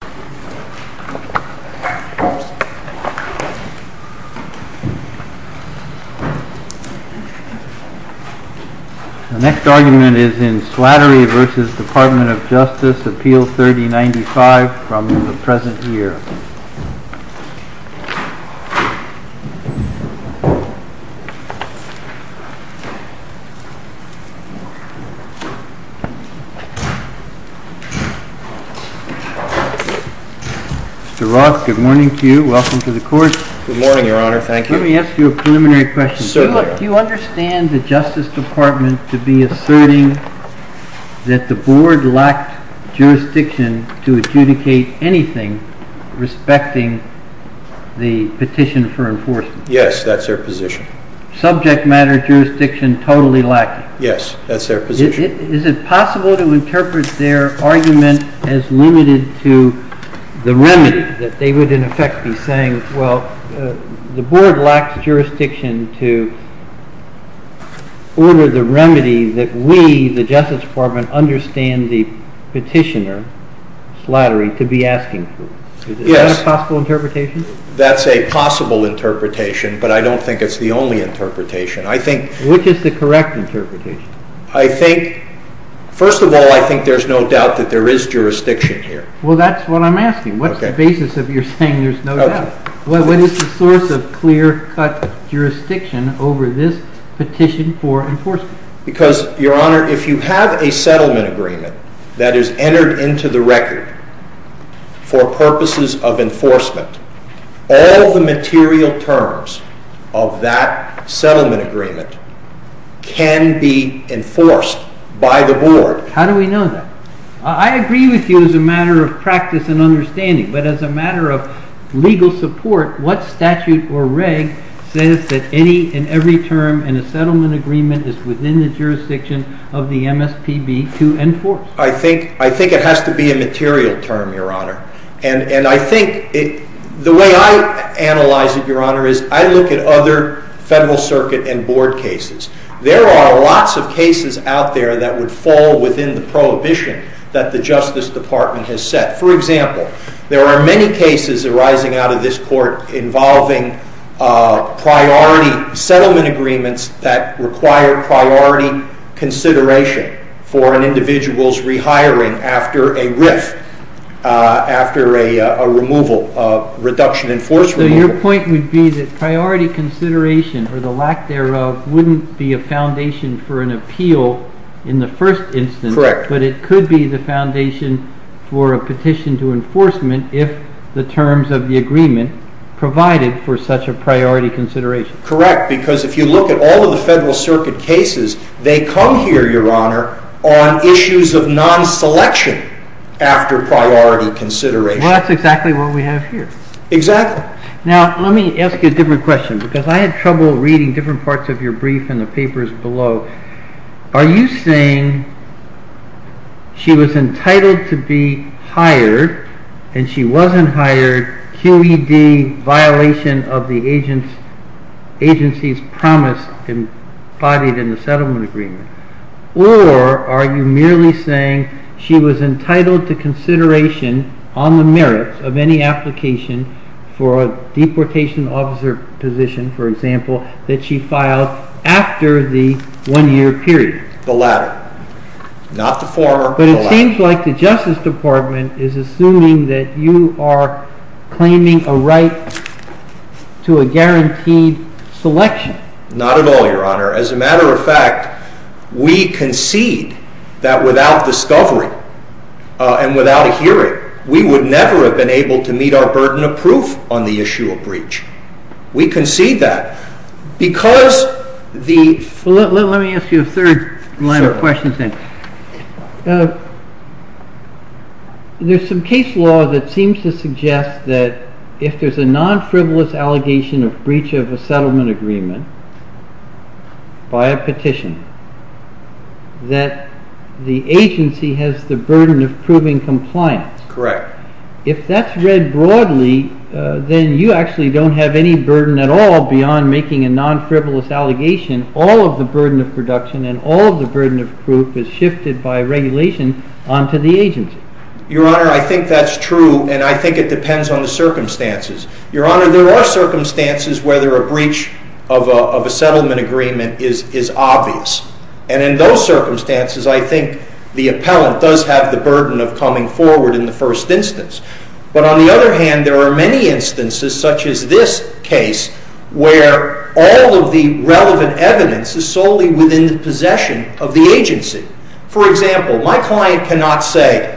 The next argument is in Slattery v. Department of Justice, Appeal 3095, from the present Mr. Roth, good morning to you. Welcome to the Court. Good morning, Your Honor. Thank you. Let me ask you a preliminary question. Do you understand the Justice Department to be asserting that the Board lacked jurisdiction to adjudicate anything respecting the petition for enforcement? Yes, that's their position. Subject matter jurisdiction totally lacking? Yes, that's their position. Is it possible to interpret their argument as limited to the remedy, that they would in effect be saying, well, the Board lacks jurisdiction to order the remedy that we, the Justice Department, understand the petitioner, Slattery, to be asking for? Yes. Is that a possible interpretation? That's a possible interpretation, but I don't think it's the only interpretation. I think Which is the correct interpretation? First of all, I think there's no doubt that there is jurisdiction here. Well, that's what I'm asking. What's the basis of your saying there's no doubt? What is the source of clear-cut jurisdiction over this petition for enforcement? Your Honor, if you have a settlement agreement that is entered into the record for purposes of enforcement, all the material terms of that settlement agreement can be enforced by the Board. How do we know that? I agree with you as a matter of practice and understanding, but as a matter of legal support, what statute or reg says that any and every term in a settlement agreement is within the jurisdiction of the MSPB to enforce? I think it has to be a material term, Your Honor. And I think the way I analyze it, Your Honor, is I look at other Federal Circuit and Board cases. There are lots of cases out there that would fall within the prohibition that the Justice Department has set. For example, there are many cases arising out of this Court involving priority settlement agreements that require priority consideration for an individual's rehiring after a RIF, after a reduction in force removal. So your point would be that priority consideration or the lack thereof wouldn't be a foundation for an appeal in the first instance. Correct. But it could be the foundation for a petition to enforcement if the terms of the agreement provided for such a priority consideration. Correct, because if you look at all of the Federal Circuit cases, they come here, Your Honor, on issues of non-selection after priority consideration. Well, that's exactly what we have here. Exactly. Now, let me ask you a different question, because I had trouble reading different parts of your brief in the papers below. Are you saying she was entitled to be hired, and she wasn't hired, QED violation of the agency's promise embodied in the settlement agreement? Or are you merely saying she was entitled to consideration on the merits of any application for a deportation officer position, for example, that she filed after the one-year period? The latter. Not the former, but the latter. But it seems like the Justice Department is assuming that you are claiming a right to a guaranteed selection. Not at all, Your Honor. As a matter of fact, we concede that without discovery and without a hearing, we would never have been able to meet our burden of proof on the issue of breach. We concede that. Let me ask you a third line of questions then. There's some case law that seems to suggest that if there's a non-frivolous allegation of breach of a settlement agreement by a petition, that the agency has the burden of proving compliance. Correct. If that's read broadly, then you actually don't have any burden at all beyond making a non-frivolous allegation. All of the burden of production and all of the burden of proof is shifted by regulation onto the agency. Your Honor, I think that's true, and I think it depends on the circumstances. Your Honor, there are circumstances where a breach of a settlement agreement is obvious. And in those circumstances, I think the appellant does have the burden of coming forward in the first instance. But on the other hand, there are many instances such as this case where all of the relevant evidence is solely within the possession of the agency. For example, my client cannot say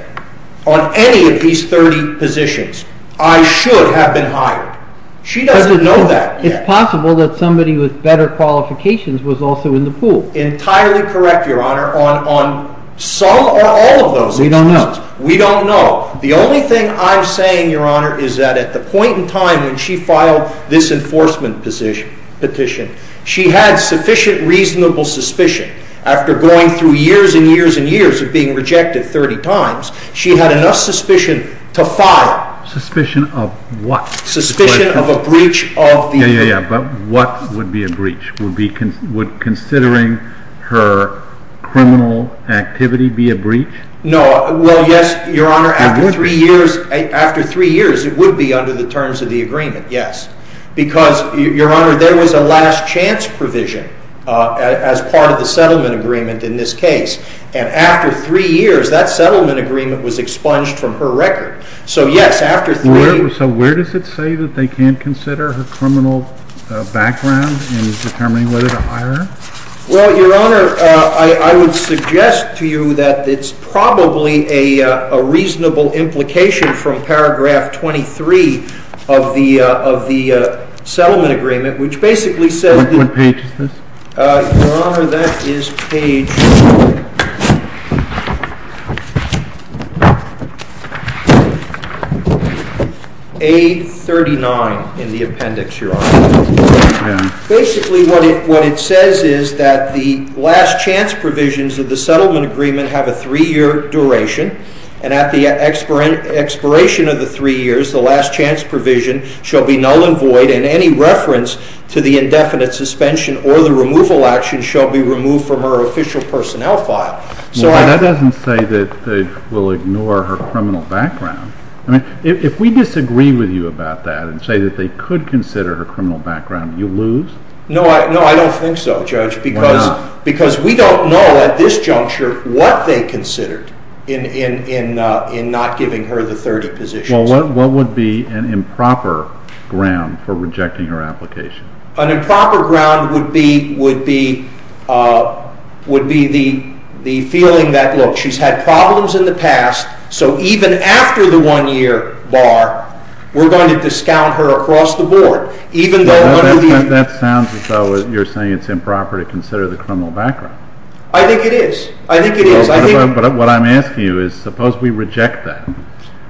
on any of these 30 positions, I should have been hired. She doesn't know that yet. It's possible that somebody with better qualifications was also in the pool. Entirely correct, Your Honor, on some or all of those. We don't know. We don't know. The only thing I'm saying, Your Honor, is that at the point in time when she filed this enforcement petition, she had sufficient reasonable suspicion. After going through years and years and years of being rejected 30 times, she had enough suspicion to file. Suspicion of what? Suspicion of a breach of the agreement. Yeah, yeah, yeah, but what would be a breach? Would considering her criminal activity be a breach? No. Well, yes, Your Honor. After three years, it would be under the terms of the agreement, yes. Because, Your Honor, there was a last chance provision as part of the settlement agreement in this case. And after three years, that settlement agreement was expunged from her record. So, yes, after three years. So where does it say that they can't consider her criminal background in determining whether to hire her? Well, Your Honor, I would suggest to you that it's probably a reasonable implication from paragraph 23 of the settlement agreement, which basically says that- What page is this? Your Honor, that is page A39 in the appendix, Your Honor. Basically, what it says is that the last chance provisions of the settlement agreement have a three-year duration. And at the expiration of the three years, the last chance provision shall be null and void and any reference to the indefinite suspension or the removal action shall be removed from her official personnel file. That doesn't say that they will ignore her criminal background. If we disagree with you about that and say that they could consider her criminal background, you lose? No, I don't think so, Judge. Why not? Because we don't know at this juncture what they considered in not giving her the third position. Well, what would be an improper ground for rejecting her application? An improper ground would be the feeling that, look, she's had problems in the past, so even after the one-year bar, we're going to discount her across the board. That sounds as though you're saying it's improper to consider the criminal background. I think it is. I think it is. But what I'm asking you is, suppose we reject that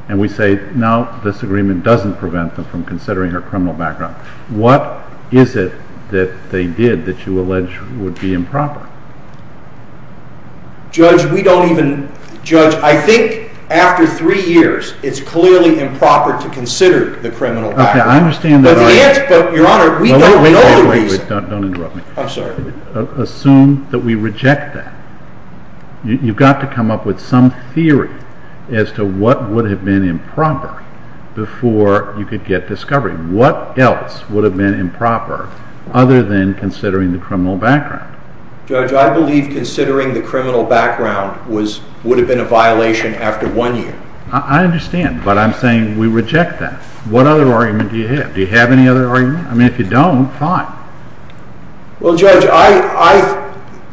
and we say, no, this agreement doesn't prevent them from considering her criminal background. What is it that they did that you allege would be improper? Judge, we don't even – Judge, I think after three years, it's clearly improper to consider the criminal background. Your Honor, we don't know the reason. Don't interrupt me. I'm sorry. Assume that we reject that. You've got to come up with some theory as to what would have been improper before you could get discovery. What else would have been improper other than considering the criminal background? Judge, I believe considering the criminal background would have been a violation after one year. I understand, but I'm saying we reject that. What other argument do you have? Do you have any other argument? I mean, if you don't, fine. Well, Judge,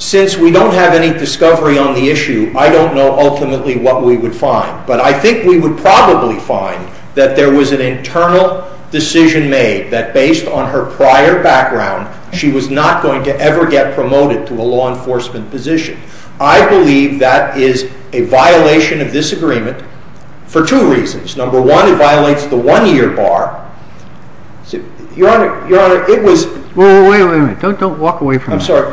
since we don't have any discovery on the issue, I don't know ultimately what we would find. But I think we would probably find that there was an internal decision made that based on her prior background, she was not going to ever get promoted to a law enforcement position. I believe that is a violation of this agreement for two reasons. Number one, it violates the one-year bar. Your Honor, it was – Wait a minute. Don't walk away from me. I'm sorry.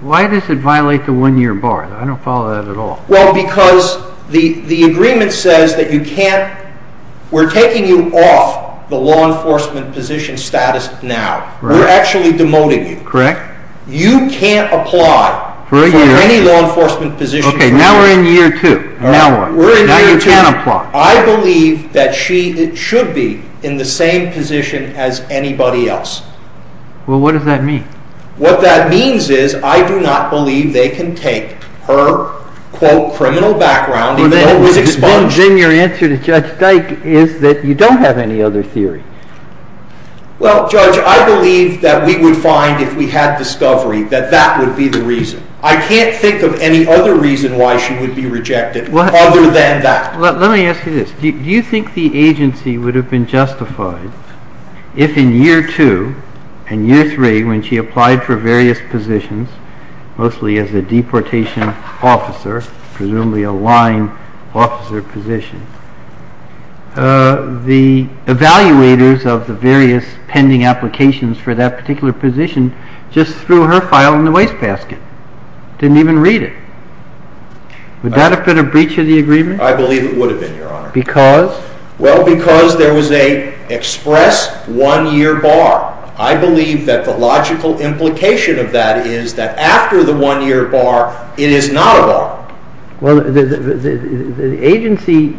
Why does it violate the one-year bar? I don't follow that at all. Well, because the agreement says that you can't – we're taking you off the law enforcement position status now. We're actually demoting you. Correct. You can't apply for any law enforcement position. Okay, now we're in year two. Now what? We're in year two. Now you can't apply. I believe that she should be in the same position as anybody else. Well, what does that mean? What that means is I do not believe they can take her, quote, criminal background, even though it was exposed. Then your answer to Judge Dyke is that you don't have any other theory. Well, Judge, I believe that we would find, if we had discovery, that that would be the reason. I can't think of any other reason why she would be rejected other than that. Let me ask you this. Do you think the agency would have been justified if, in year two and year three, when she applied for various positions, mostly as a deportation officer, presumably a line officer position, the evaluators of the various pending applications for that particular position just threw her file in the wastebasket, didn't even read it? Would that have been a breach of the agreement? I believe it would have been, Your Honor. Because? Well, because there was an express one-year bar. I believe that the logical implication of that is that after the one-year bar, it is not a bar. Well, the agency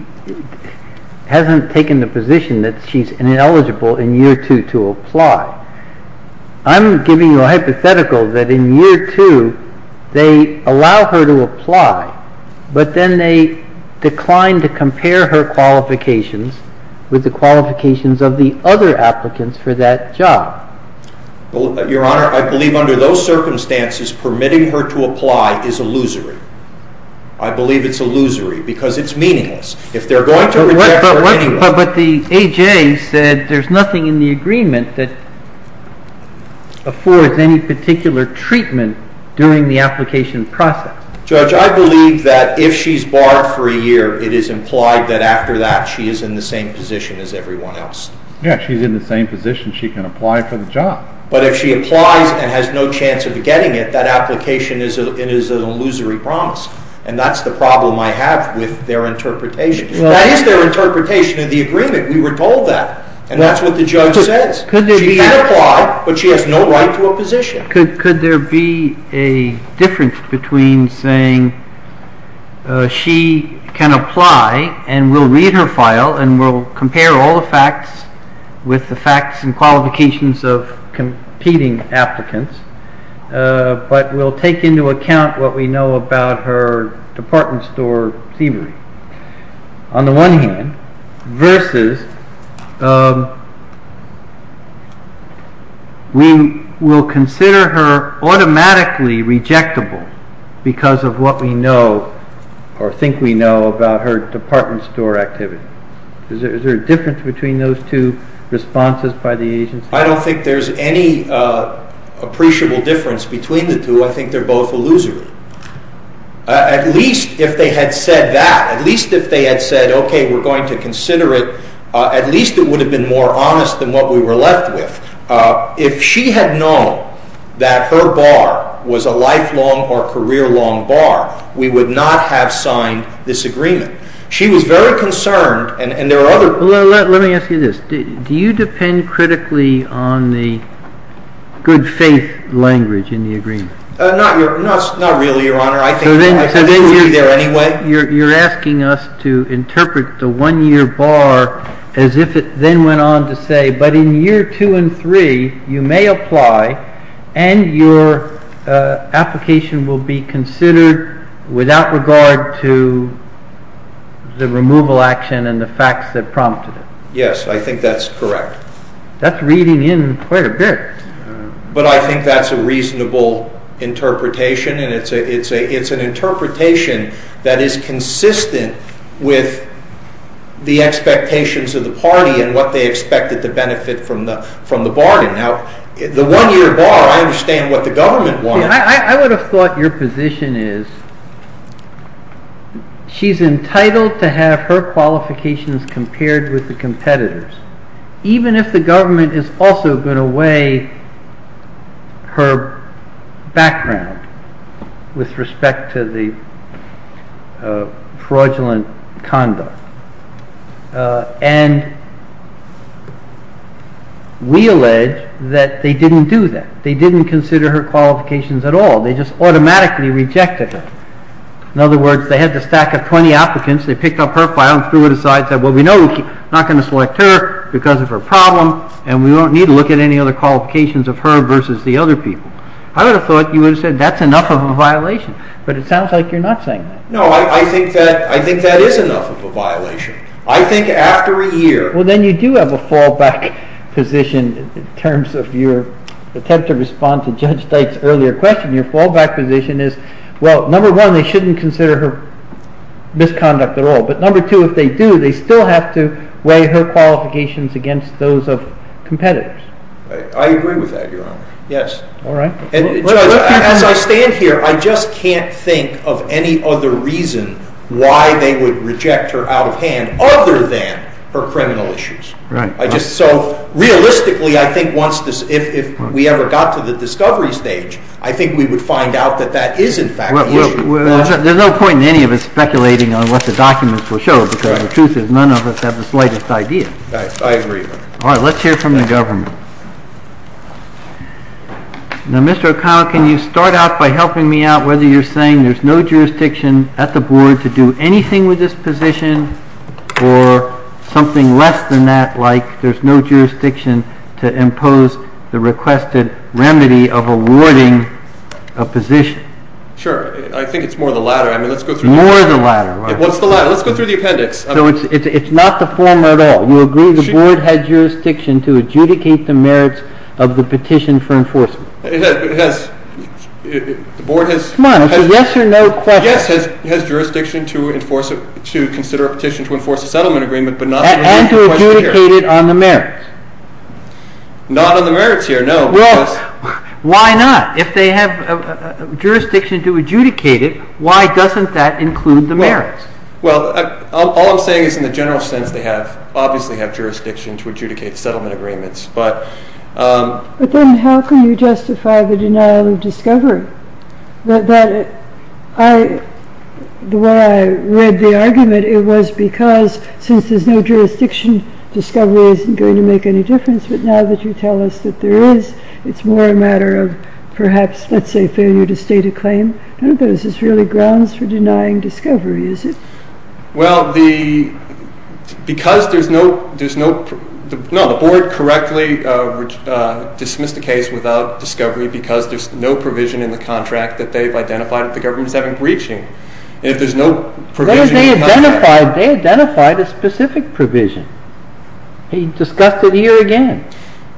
hasn't taken the position that she's ineligible in year two to apply. I'm giving you a hypothetical that in year two, they allow her to apply, but then they decline to compare her qualifications with the qualifications of the other applicants for that job. Your Honor, I believe under those circumstances, permitting her to apply is illusory. I believe it's illusory because it's meaningless. If they're going to reject her, it's meaningless. But the A.J. said there's nothing in the agreement that affords any particular treatment during the application process. Judge, I believe that if she's barred for a year, it is implied that after that, she is in the same position as everyone else. Yes, she's in the same position. She can apply for the job. But if she applies and has no chance of getting it, that application is an illusory promise. And that's the problem I have with their interpretation. That is their interpretation of the agreement. We were told that. And that's what the judge says. She can apply, but she has no right to a position. Could there be a difference between saying she can apply and we'll read her file and we'll compare all the facts with the facts and qualifications of competing applicants, but we'll take into account what we know about her department store thievery, on the one hand, versus we will consider her automatically rejectable because of what we know or think we know about her department store activity? Is there a difference between those two responses by the agency? I don't think there's any appreciable difference between the two. I think they're both illusory. At least if they had said that, at least if they had said, okay, we're going to consider it, at least it would have been more honest than what we were left with. If she had known that her bar was a lifelong or career-long bar, we would not have signed this agreement. She was very concerned, and there are other... Let me ask you this. Do you depend critically on the good faith language in the agreement? Not really, Your Honor. I think we'll be there anyway. You're asking us to interpret the one-year bar as if it then went on to say, but in year two and three, you may apply and your application will be considered without regard to the removal action and the facts that prompted it. Yes, I think that's correct. That's reading in quite a bit. But I think that's a reasonable interpretation, and it's an interpretation that is consistent with the expectations of the party and what they expected to benefit from the bargain. Now, the one-year bar, I understand what the government wants. I would have thought your position is she's entitled to have her qualifications compared with the competitors, even if the government is also going to weigh her background with respect to the fraudulent conduct. And we allege that they didn't do that. They didn't consider her qualifications at all. They just automatically rejected her. In other words, they had the stack of 20 applicants. Well, we know we're not going to select her because of her problem, and we don't need to look at any other qualifications of her versus the other people. I would have thought you would have said that's enough of a violation, but it sounds like you're not saying that. No, I think that is enough of a violation. I think after a year. Well, then you do have a fallback position in terms of your attempt to respond to Judge Dyke's earlier question. Your fallback position is, well, number one, they shouldn't consider her misconduct at all, but number two, if they do, they still have to weigh her qualifications against those of competitors. I agree with that, Your Honor. Yes. All right. As I stand here, I just can't think of any other reason why they would reject her out of hand other than her criminal issues. Right. So realistically, I think if we ever got to the discovery stage, I think we would find out that that is, in fact, the issue. There's no point in any of us speculating on what the documents will show because the truth is none of us have the slightest idea. I agree. All right. Let's hear from the government. Now, Mr. O'Connell, can you start out by helping me out whether you're saying there's no jurisdiction at the board to do anything with this position or something less than that, like there's no jurisdiction to impose the requested remedy of awarding a position? Sure. I think it's more the latter. I mean, let's go through the appendix. More the latter, right. What's the latter? Let's go through the appendix. So it's not the former at all. You agree the board has jurisdiction to adjudicate the merits of the petition for enforcement. It has. The board has. Come on. It's a yes or no question. Yes, it has jurisdiction to consider a petition to enforce a settlement agreement, but not to adjudicate it here. And to adjudicate it on the merits. Not on the merits here, no. Well, why not? If they have jurisdiction to adjudicate it, why doesn't that include the merits? Well, all I'm saying is in the general sense, they obviously have jurisdiction to adjudicate settlement agreements. But then how can you justify the denial of discovery? The way I read the argument, it was because since there's no jurisdiction, discovery isn't going to make any difference. But now that you tell us that there is, it's more a matter of perhaps, let's say, failure to state a claim. I don't think this is really grounds for denying discovery, is it? Well, because there's no – no, the board correctly dismissed the case without discovery because there's no provision in the contract that they've identified that the government is having breaching. And if there's no provision in the contract – They identified a specific provision. He discussed it here again.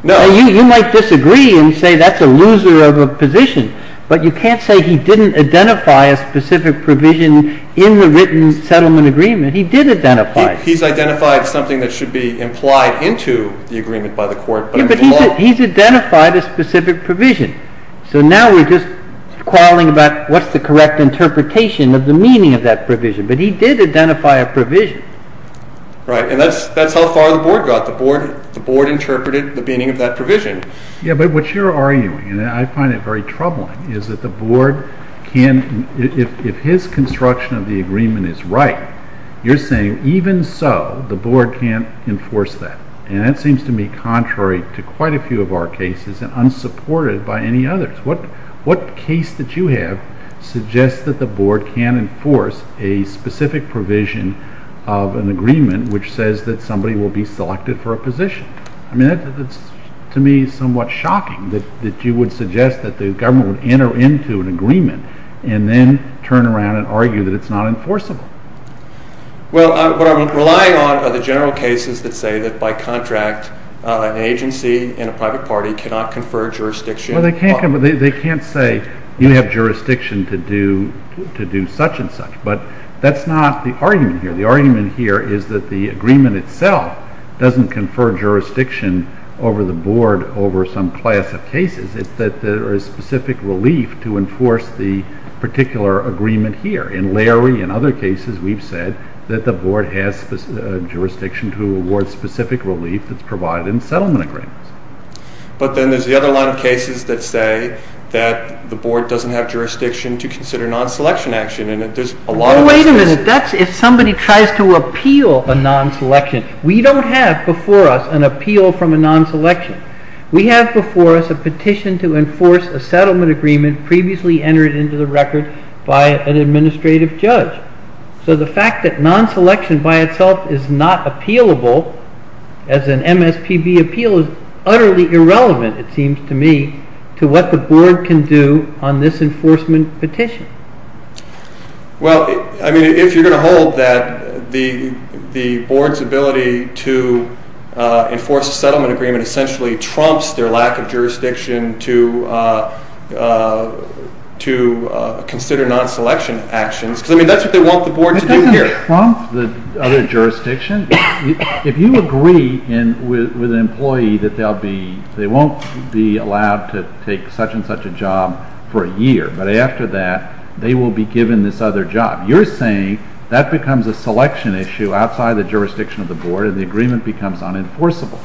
Now, you might disagree and say that's a loser of a position. But you can't say he didn't identify a specific provision in the written settlement agreement. He did identify it. He's identified something that should be implied into the agreement by the court. Yeah, but he's identified a specific provision. So now we're just quarreling about what's the correct interpretation of the meaning of that provision. But he did identify a provision. Right, and that's how far the board got. The board interpreted the meaning of that provision. Yeah, but what you're arguing, and I find it very troubling, is that the board can't – if his construction of the agreement is right, you're saying even so, the board can't enforce that. And that seems to me contrary to quite a few of our cases and unsupported by any others. What case that you have suggests that the board can't enforce a specific provision of an agreement which says that somebody will be selected for a position? I mean, to me, it's somewhat shocking that you would suggest that the government would enter into an agreement and then turn around and argue that it's not enforceable. Well, what I'm relying on are the general cases that say that by contract, an agency and a private party cannot confer jurisdiction. Well, they can't say you have jurisdiction to do such and such. But that's not the argument here. The argument here is that the agreement itself doesn't confer jurisdiction over the board over some class of cases. It's that there is specific relief to enforce the particular agreement here. In Larry and other cases, we've said that the board has jurisdiction to award specific relief that's provided in settlement agreements. But then there's the other line of cases that say that the board doesn't have jurisdiction to consider non-selection action. And there's a lot of— Well, wait a minute. That's if somebody tries to appeal a non-selection. We don't have before us an appeal from a non-selection. We have before us a petition to enforce a settlement agreement previously entered into the record by an administrative judge. So the fact that non-selection by itself is not appealable as an MSPB appeal is utterly irrelevant, it seems to me, to what the board can do on this enforcement petition. Well, I mean, if you're going to hold that the board's ability to enforce a settlement agreement essentially trumps their lack of jurisdiction to consider non-selection actions. I mean, that's what they want the board to do here. It doesn't trump the other jurisdiction. If you agree with an employee that they won't be allowed to take such and such a job for a year, but after that they will be given this other job, you're saying that becomes a selection issue outside the jurisdiction of the board and the agreement becomes unenforceable.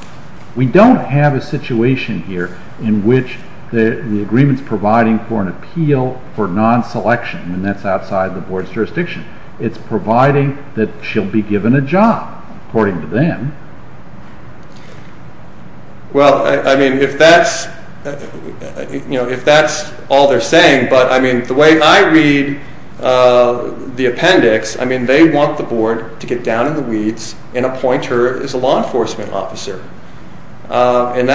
We don't have a situation here in which the agreement's providing for an appeal for non-selection and that's outside the board's jurisdiction. It's providing that she'll be given a job, according to them. Well, I mean, if that's all they're saying, but I mean, the way I read the appendix, I mean, they want the board to get down in the weeds and appoint her as a law enforcement officer. And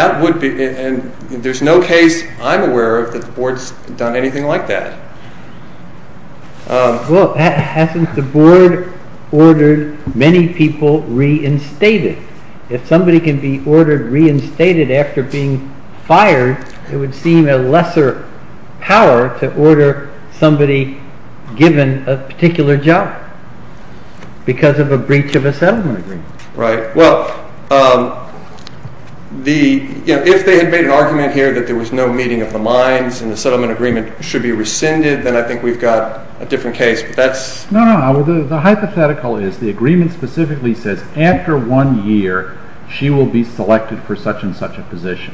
there's no case I'm aware of that the board's done anything like that. Well, hasn't the board ordered many people reinstated? If somebody can be ordered reinstated after being fired, it would seem a lesser power to order somebody given a particular job because of a breach of a settlement agreement. Right. Well, if they had made an argument here that there was no meeting of the minds and the settlement agreement should be rescinded, then I think we've got a different case. No, no. The hypothetical is the agreement specifically says after one year, she will be selected for such and such a position,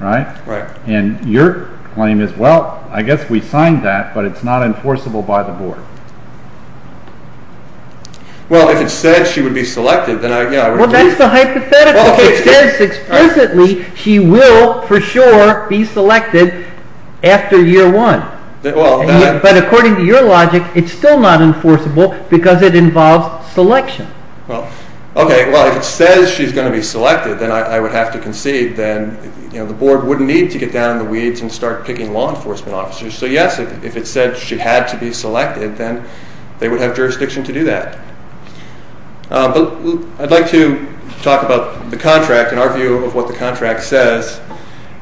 right? Right. And your claim is, well, I guess we signed that, but it's not enforceable by the board. Well, if it said she would be selected, then I would agree. Well, that's the hypothetical. It says explicitly she will for sure be selected after year one. But according to your logic, it's still not enforceable because it involves selection. Well, okay. Well, if it says she's going to be selected, then I would have to concede then the board wouldn't need to get down in the weeds and start picking law enforcement officers. So, yes, if it said she had to be selected, then they would have jurisdiction to do that. But I'd like to talk about the contract and our view of what the contract says.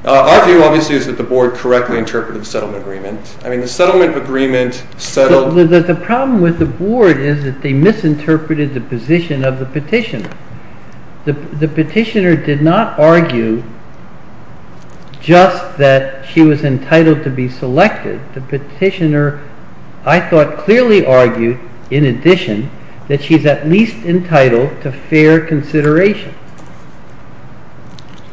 Our view, obviously, is that the board correctly interpreted the settlement agreement. I mean, the settlement agreement settled. The problem with the board is that they misinterpreted the position of the petitioner. The petitioner did not argue just that she was entitled to be selected. The petitioner, I thought, clearly argued, in addition, that she's at least entitled to fair consideration.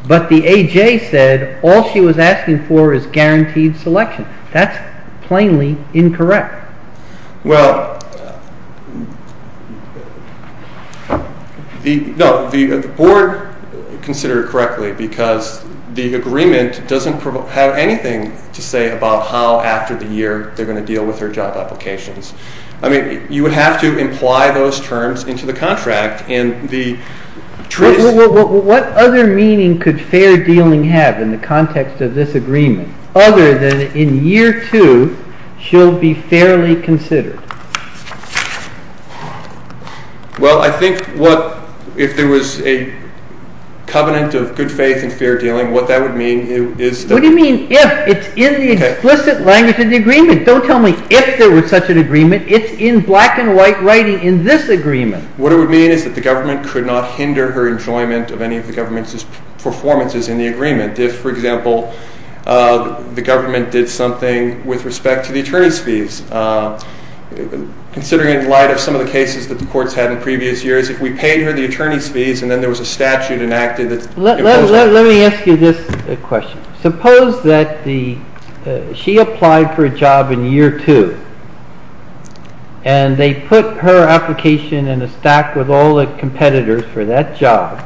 But the AJ said all she was asking for is guaranteed selection. That's plainly incorrect. Well, no, the board considered it correctly because the agreement doesn't have anything to say about how, after the year, they're going to deal with her job applications. I mean, you would have to imply those terms into the contract. What other meaning could fair dealing have in the context of this agreement, other than in year two, she'll be fairly considered? Well, I think if there was a covenant of good faith and fair dealing, what that would mean is... What do you mean if? It's in the explicit language of the agreement. Don't tell me if there was such an agreement. It's in black and white writing in this agreement. What it would mean is that the government could not hinder her enjoyment of any of the government's performances in the agreement. If, for example, the government did something with respect to the attorney's fees, considering in light of some of the cases that the courts had in previous years, if we paid her the attorney's fees and then there was a statute enacted that... Let me ask you this question. Suppose that she applied for a job in year two and they put her application in a stack with all the competitors for that job.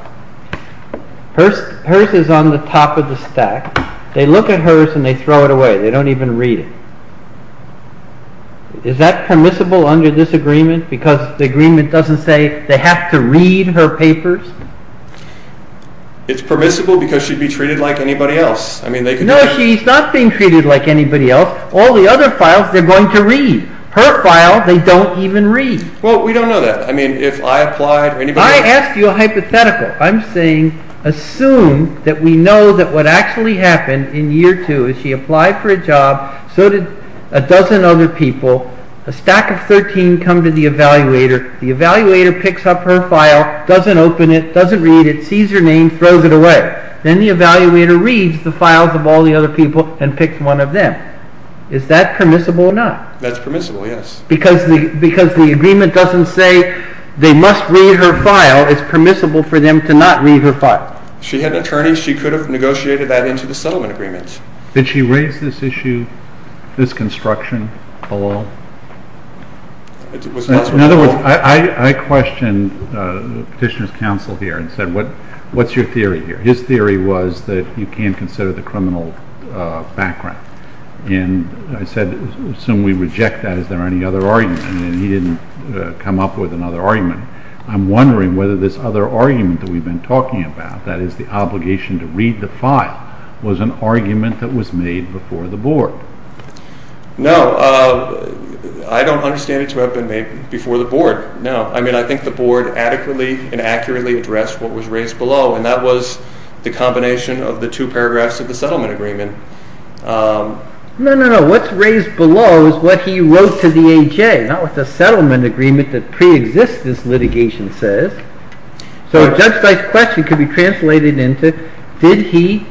Hers is on the top of the stack. They look at hers and they throw it away. They don't even read it. Is that permissible under this agreement because the agreement doesn't say they have to read her papers? It's permissible because she'd be treated like anybody else. No, she's not being treated like anybody else. All the other files they're going to read. Her file they don't even read. Well, we don't know that. I mean, if I applied or anybody else... I asked you a hypothetical. I'm saying assume that we know that what actually happened in year two is she applied for a job, so did a dozen other people. A stack of 13 come to the evaluator. The evaluator picks up her file, doesn't open it, doesn't read it, sees her name, throws it away. Then the evaluator reads the files of all the other people and picks one of them. Is that permissible or not? That's permissible, yes. Because the agreement doesn't say they must read her file. It's permissible for them to not read her file. She had an attorney. She could have negotiated that into the settlement agreements. Did she raise this issue, this construction below? In other words, I questioned the petitioner's counsel here and said, what's your theory here? His theory was that you can't consider the criminal background. And I said, assume we reject that. Is there any other argument? And he didn't come up with another argument. I'm wondering whether this other argument that we've been talking about, that is the obligation to read the file, was an argument that was made before the board. No. I don't understand it to have been made before the board. No. I mean, I think the board adequately and accurately addressed what was raised below, and that was the combination of the two paragraphs of the settlement agreement. No, no, no. What's raised below is what he wrote to the A.J., not what the settlement agreement that pre-exists this litigation says. So Judge Stein's question could be translated into, did he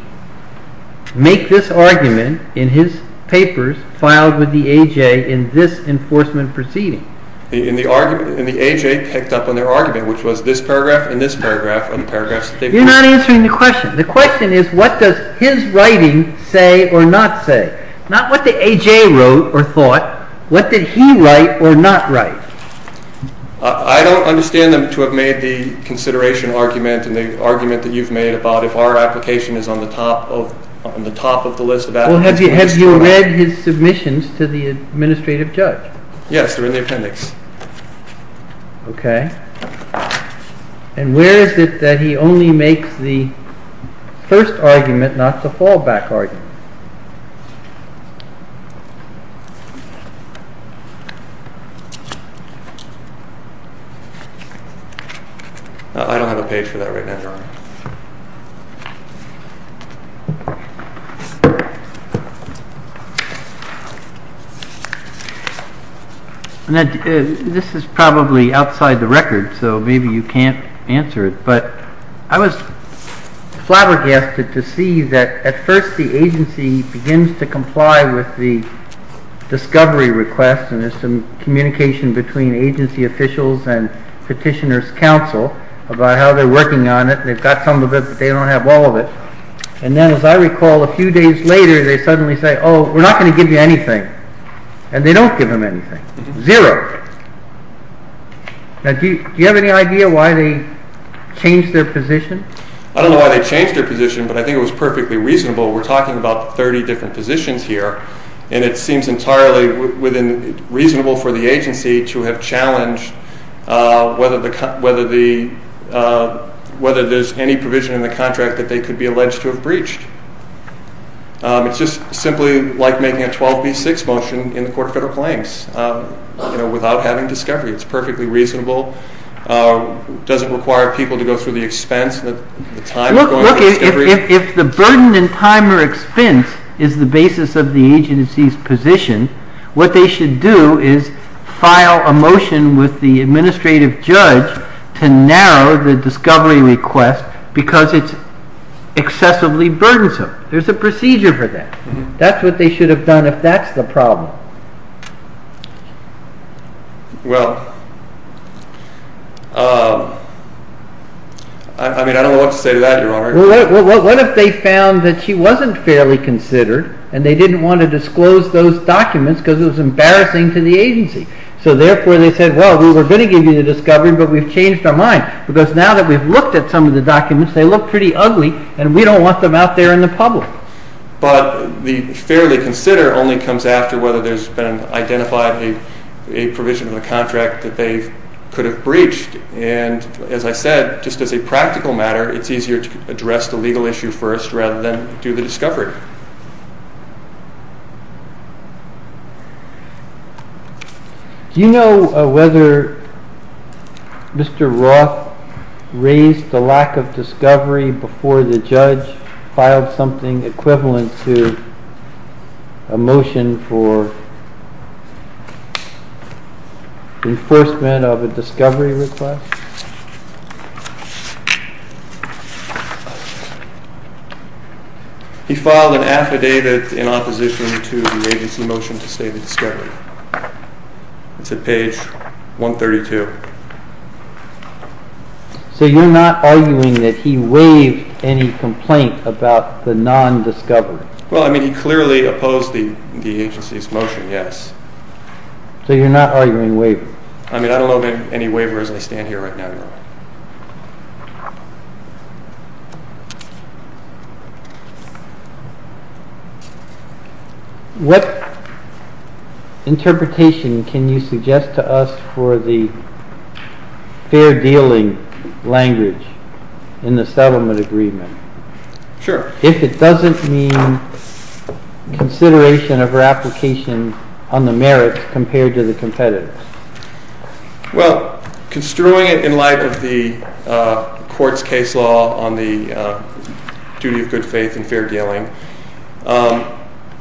make this argument in his papers filed with the A.J. in this enforcement proceeding? And the A.J. picked up on their argument, which was this paragraph and this paragraph and the paragraphs that they put. You're not answering the question. The question is, what does his writing say or not say? Not what the A.J. wrote or thought. What did he write or not write? I don't understand them to have made the consideration argument and the argument that you've made about if our application is on the top of the list of applicants. Well, have you read his submissions to the administrative judge? Yes, they're in the appendix. Okay. And where is it that he only makes the first argument, not the fallback argument? I don't have a page for that right now. This is probably outside the record, so maybe you can't answer it. But I was flabbergasted to see that at first the agency begins to comply with the discovery request and there's some communication between agency officials and petitioner's counsel about how they're working on it. They've got some of it, but they don't have all of it. And then, as I recall, a few days later, they suddenly say, oh, we're not going to give you anything. And they don't give them anything. Zero. Now, do you have any idea why they changed their position? I don't know why they changed their position, but I think it was perfectly reasonable. We're talking about 30 different positions here, and it seems entirely reasonable for the agency to have challenged whether there's any provision in the contract that they could be alleged to have breached. It's just simply like making a 12B6 motion in the Court of Federal Claims, you know, without having discovery. It's perfectly reasonable. It doesn't require people to go through the expense, the time of going through discovery. If the burden and time or expense is the basis of the agency's position, what they should do is file a motion with the administrative judge to narrow the discovery request because it's excessively burdensome. There's a procedure for that. That's what they should have done if that's the problem. Well, I mean, I don't know what to say to that, Your Honor. Well, what if they found that she wasn't fairly considered and they didn't want to disclose those documents because it was embarrassing to the agency? So, therefore, they said, well, we were going to give you the discovery, but we've changed our mind because now that we've looked at some of the documents, they look pretty ugly and we don't want them out there in the public. But the fairly consider only comes after whether there's been identified a provision in the contract that they could have breached. And as I said, just as a practical matter, it's easier to address the legal issue first rather than do the discovery. Do you know whether Mr. Roth raised the lack of discovery before the judge filed something equivalent to a motion for enforcement of a discovery request? He filed an affidavit in opposition to the agency motion to say the discovery. It's at page 132. So you're not arguing that he waived any complaint about the non-discovery? Well, I mean, he clearly opposed the agency's motion, yes. So you're not arguing waiver? I mean, I don't know of any waivers. I stand here right now. What interpretation can you suggest to us for the fair dealing language in the settlement agreement? Sure. If it doesn't mean consideration of her application on the merits compared to the competitors. Well, construing it in light of the court's case law on the duty of good faith and fair dealing,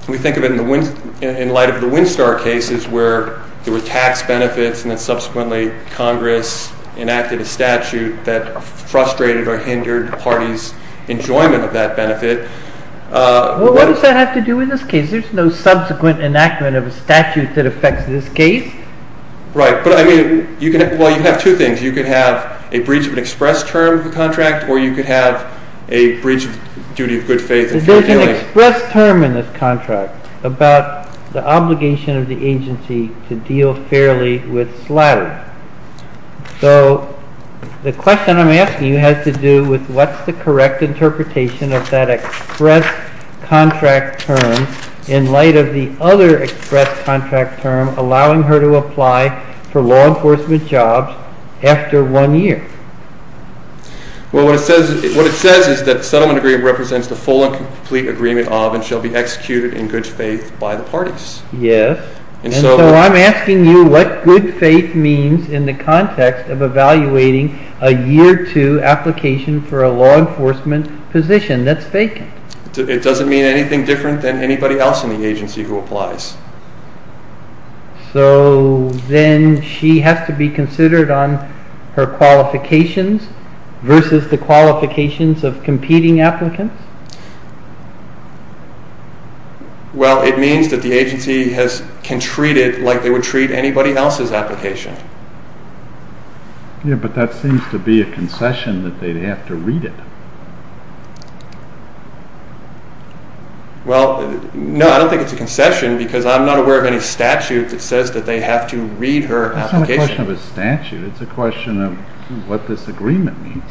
we think of it in light of the Winstar cases where there were tax benefits and then subsequently Congress enacted a statute that frustrated or hindered the parties' enjoyment of that benefit. Well, what does that have to do with this case? There's no subsequent enactment of a statute that affects this case. Right. But I mean, well, you have two things. You could have a breach of an express term of the contract or you could have a breach of duty of good faith and fair dealing. There's an express term in this contract about the obligation of the agency to deal fairly with slattery. So the question I'm asking you has to do with what's the correct interpretation of that express contract term in light of the other express contract term allowing her to apply for law enforcement jobs after one year? Well, what it says is that the settlement agreement represents the full and complete agreement of and shall be executed in good faith by the parties. Yes. And so I'm asking you what good faith means in the context of evaluating a year two application for a law enforcement position that's vacant. It doesn't mean anything different than anybody else in the agency who applies. So then she has to be considered on her qualifications versus the qualifications of competing applicants? Well, it means that the agency can treat it like they would treat anybody else's application. Yeah, but that seems to be a concession that they'd have to read it. Well, no, I don't think it's a concession because I'm not aware of any statute that says that they have to read her application. It's not a question of a statute. It's a question of what this agreement means.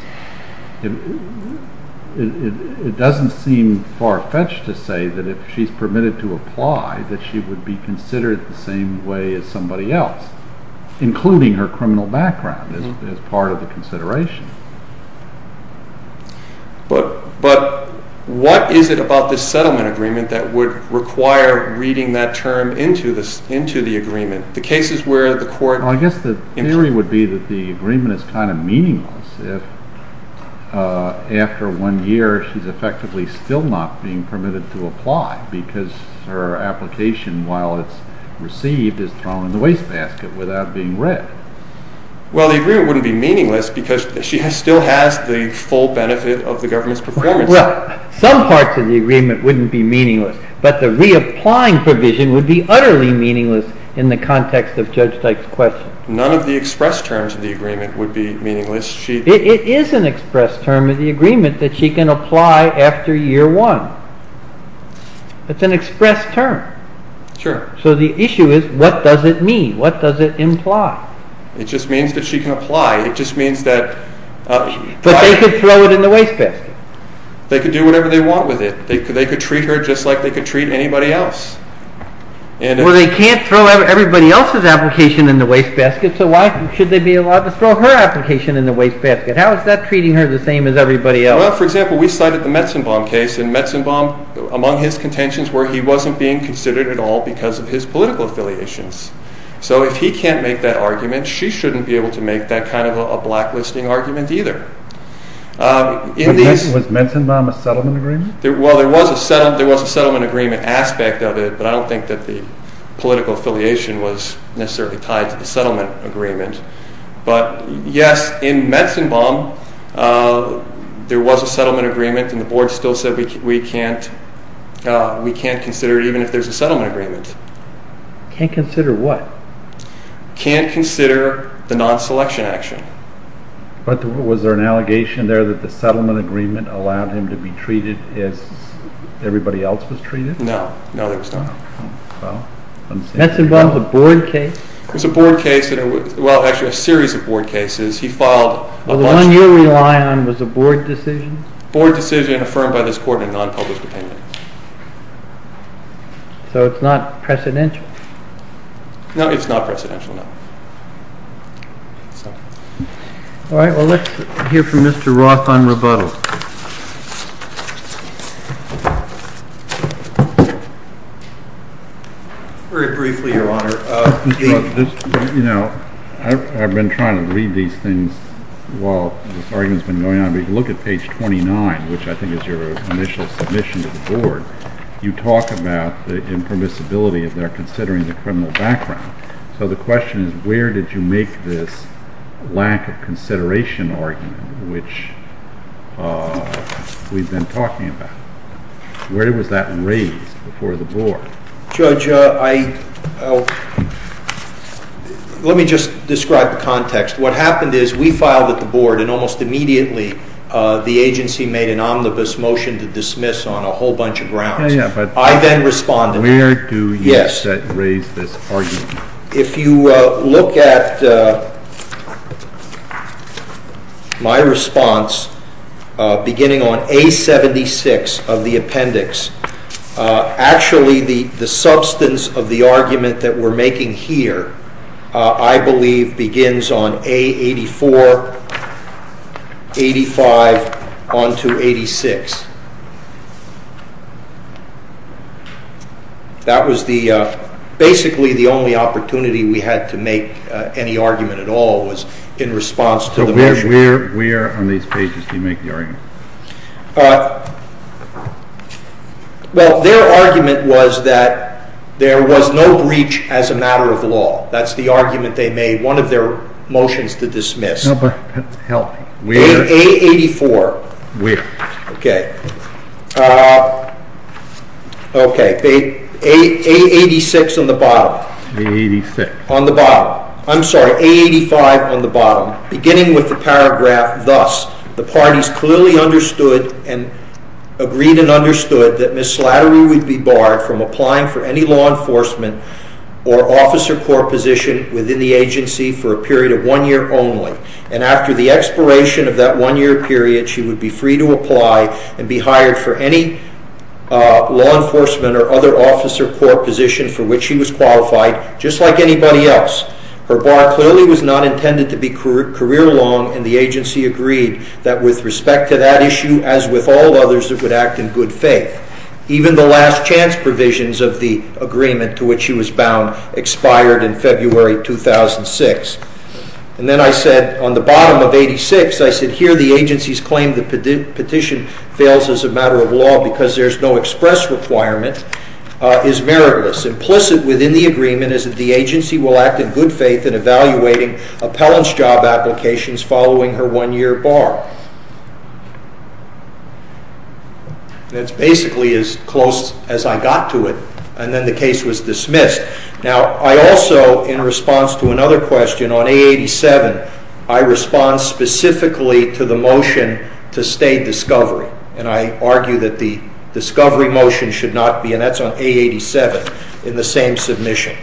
It doesn't seem far-fetched to say that if she's permitted to apply that she would be considered the same way as somebody else, including her criminal background as part of the consideration. But what is it about this settlement agreement that would require reading that term into the agreement? The cases where the court... Well, I guess the theory would be that the agreement is kind of meaningless if after one year she's effectively still not being permitted to apply because her application, while it's received, is thrown in the wastebasket without being read. Well, the agreement wouldn't be meaningless because she still has the full benefit of the government's performance. Well, some parts of the agreement wouldn't be meaningless, but the reapplying provision would be utterly meaningless in the context of Judge Teich's question. None of the express terms of the agreement would be meaningless. It is an express term of the agreement that she can apply after year one. It's an express term. Sure. So the issue is, what does it mean? What does it imply? It just means that she can apply. It just means that... But they could throw it in the wastebasket. They could do whatever they want with it. They could treat her just like they could treat anybody else. Well, they can't throw everybody else's application in the wastebasket, so why should they be allowed to throw her application in the wastebasket? How is that treating her the same as everybody else? Well, for example, we cited the Metzenbaum case, and Metzenbaum, among his contentions, were he wasn't being considered at all because of his political affiliations. So if he can't make that argument, she shouldn't be able to make that kind of a blacklisting argument either. Was Metzenbaum a settlement agreement? Well, there was a settlement agreement aspect of it, but I don't think that the political affiliation was necessarily tied to the settlement agreement. But yes, in Metzenbaum, there was a settlement agreement, and the board still said we can't consider it, even if there's a settlement agreement. Can't consider what? Can't consider the non-selection action. But was there an allegation there that the settlement agreement allowed him to be treated as everybody else was treated? No. No, there was not. Metzenbaum was a board case? It was a board case, well, actually a series of board cases. He filed a bunch of... Well, the one you rely on was a board decision? Board decision affirmed by this court in a non-public opinion. So it's not precedential? No, it's not precedential, no. All right, well, let's hear from Mr. Roth on rebuttal. Very briefly, Your Honor. I've been trying to read these things while this argument's been going on, but if you look at page 29, which I think is your initial submission to the board, you talk about the impermissibility of their considering the criminal background. So the question is, where did you make this lack of consideration argument, which we've been talking about? Where was that raised before the board? Judge, I... Let me just describe the context. What happened is we filed at the board, and almost immediately the agency made an omnibus motion to dismiss on a whole bunch of grounds. Yeah, yeah, but... I then responded. Where do you... Yes. ...raise this argument? If you look at my response, beginning on A76 of the appendix, actually the substance of the argument that we're making here, I believe begins on A84, 85, onto 86. That was basically the only opportunity we had to make any argument at all was in response to the motion. Where on these pages do you make the argument? Well, their argument was that there was no breach as a matter of law. That's the argument they made, one of their motions to dismiss. No, but... Help me. A84. Where? Okay. Okay, A86 on the bottom. A86. On the bottom. I'm sorry, A85 on the bottom. Beginning with the paragraph, thus, the parties clearly understood and agreed and understood that mislattery would be barred from applying for any law enforcement or officer corps position within the agency for a period of one year only. And after the expiration of that one-year period, she would be free to apply and be hired for any law enforcement or other officer corps position for which she was qualified, just like anybody else. Her bar clearly was not intended to be career-long, and the agency agreed that with respect to that issue, as with all others, it would act in good faith. Even the last chance provisions of the agreement to which she was bound expired in February 2006. And then I said, on the bottom of 86, I said, here the agency's claimed that petition fails as a matter of law because there's no express requirement is meritless. Implicit within the agreement is that the agency will act in good faith in evaluating appellant's job applications following her one-year bar. That's basically as close as I got to it, and then the case was dismissed. Now, I also, in response to another question, on A87, I respond specifically to the motion to stay discovery, and I argue that the discovery motion should not be, and that's on A87, in the same submission.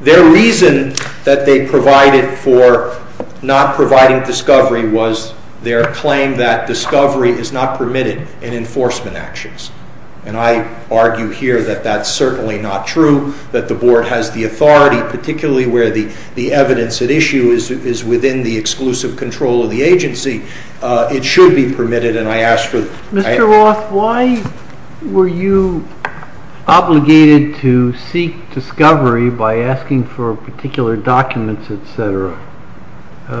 Their reason that they provided for not providing discovery was their claim that discovery is not permitted in enforcement actions, and I argue here that that's certainly not true, that the board has the authority, particularly where the evidence at issue is within the exclusive control of the agency, it should be permitted, and I ask for... Mr. Roth, why were you obligated to seek discovery by asking for particular documents, etc.?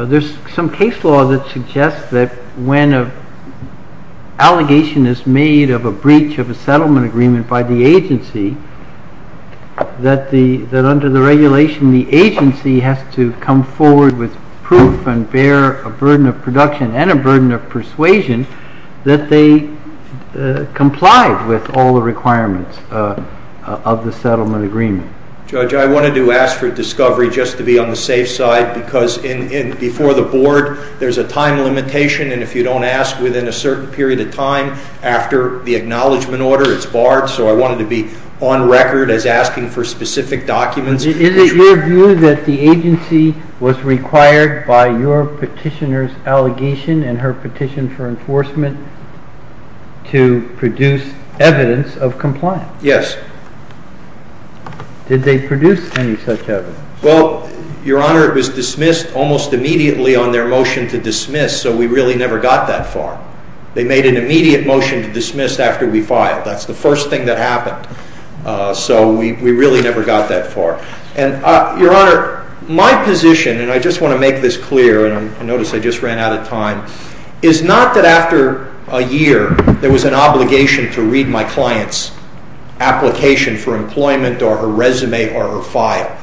There's some case law that suggests that when an allegation is made of a breach of a settlement agreement by the agency, that under the regulation, the agency has to come forward with proof and bear a burden of production and a burden of persuasion that they complied with all the requirements of the settlement agreement. Judge, I wanted to ask for discovery just to be on the safe side because before the board, there's a time limitation, and if you don't ask within a certain period of time after the acknowledgement order, it's barred, so I wanted to be on record as asking for specific documents. Is it your view that the agency was required by your petitioner's allegation and her petition for enforcement to produce evidence of compliance? Yes. Did they produce any such evidence? Well, Your Honor, it was dismissed almost immediately on their motion to dismiss, so we really never got that far. They made an immediate motion to dismiss after we filed. That's the first thing that happened, so we really never got that far. Your Honor, my position, and I just want to make this clear, and notice I just ran out of time, is not that after a year, there was an obligation to read my client's application for employment or her resume or her file.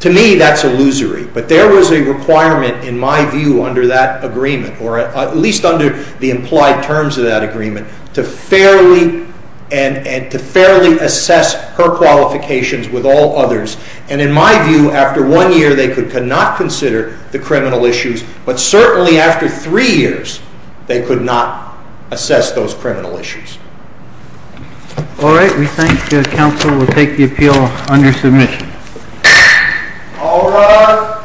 To me, that's illusory, but there was a requirement, in my view, under that agreement, or at least under the implied terms of that agreement, to fairly assess her qualifications with all others, and in my view, after one year, they could not consider the criminal issues, but certainly after three years, they could not assess those criminal issues. All right. We think counsel will take the appeal under submission. All rise.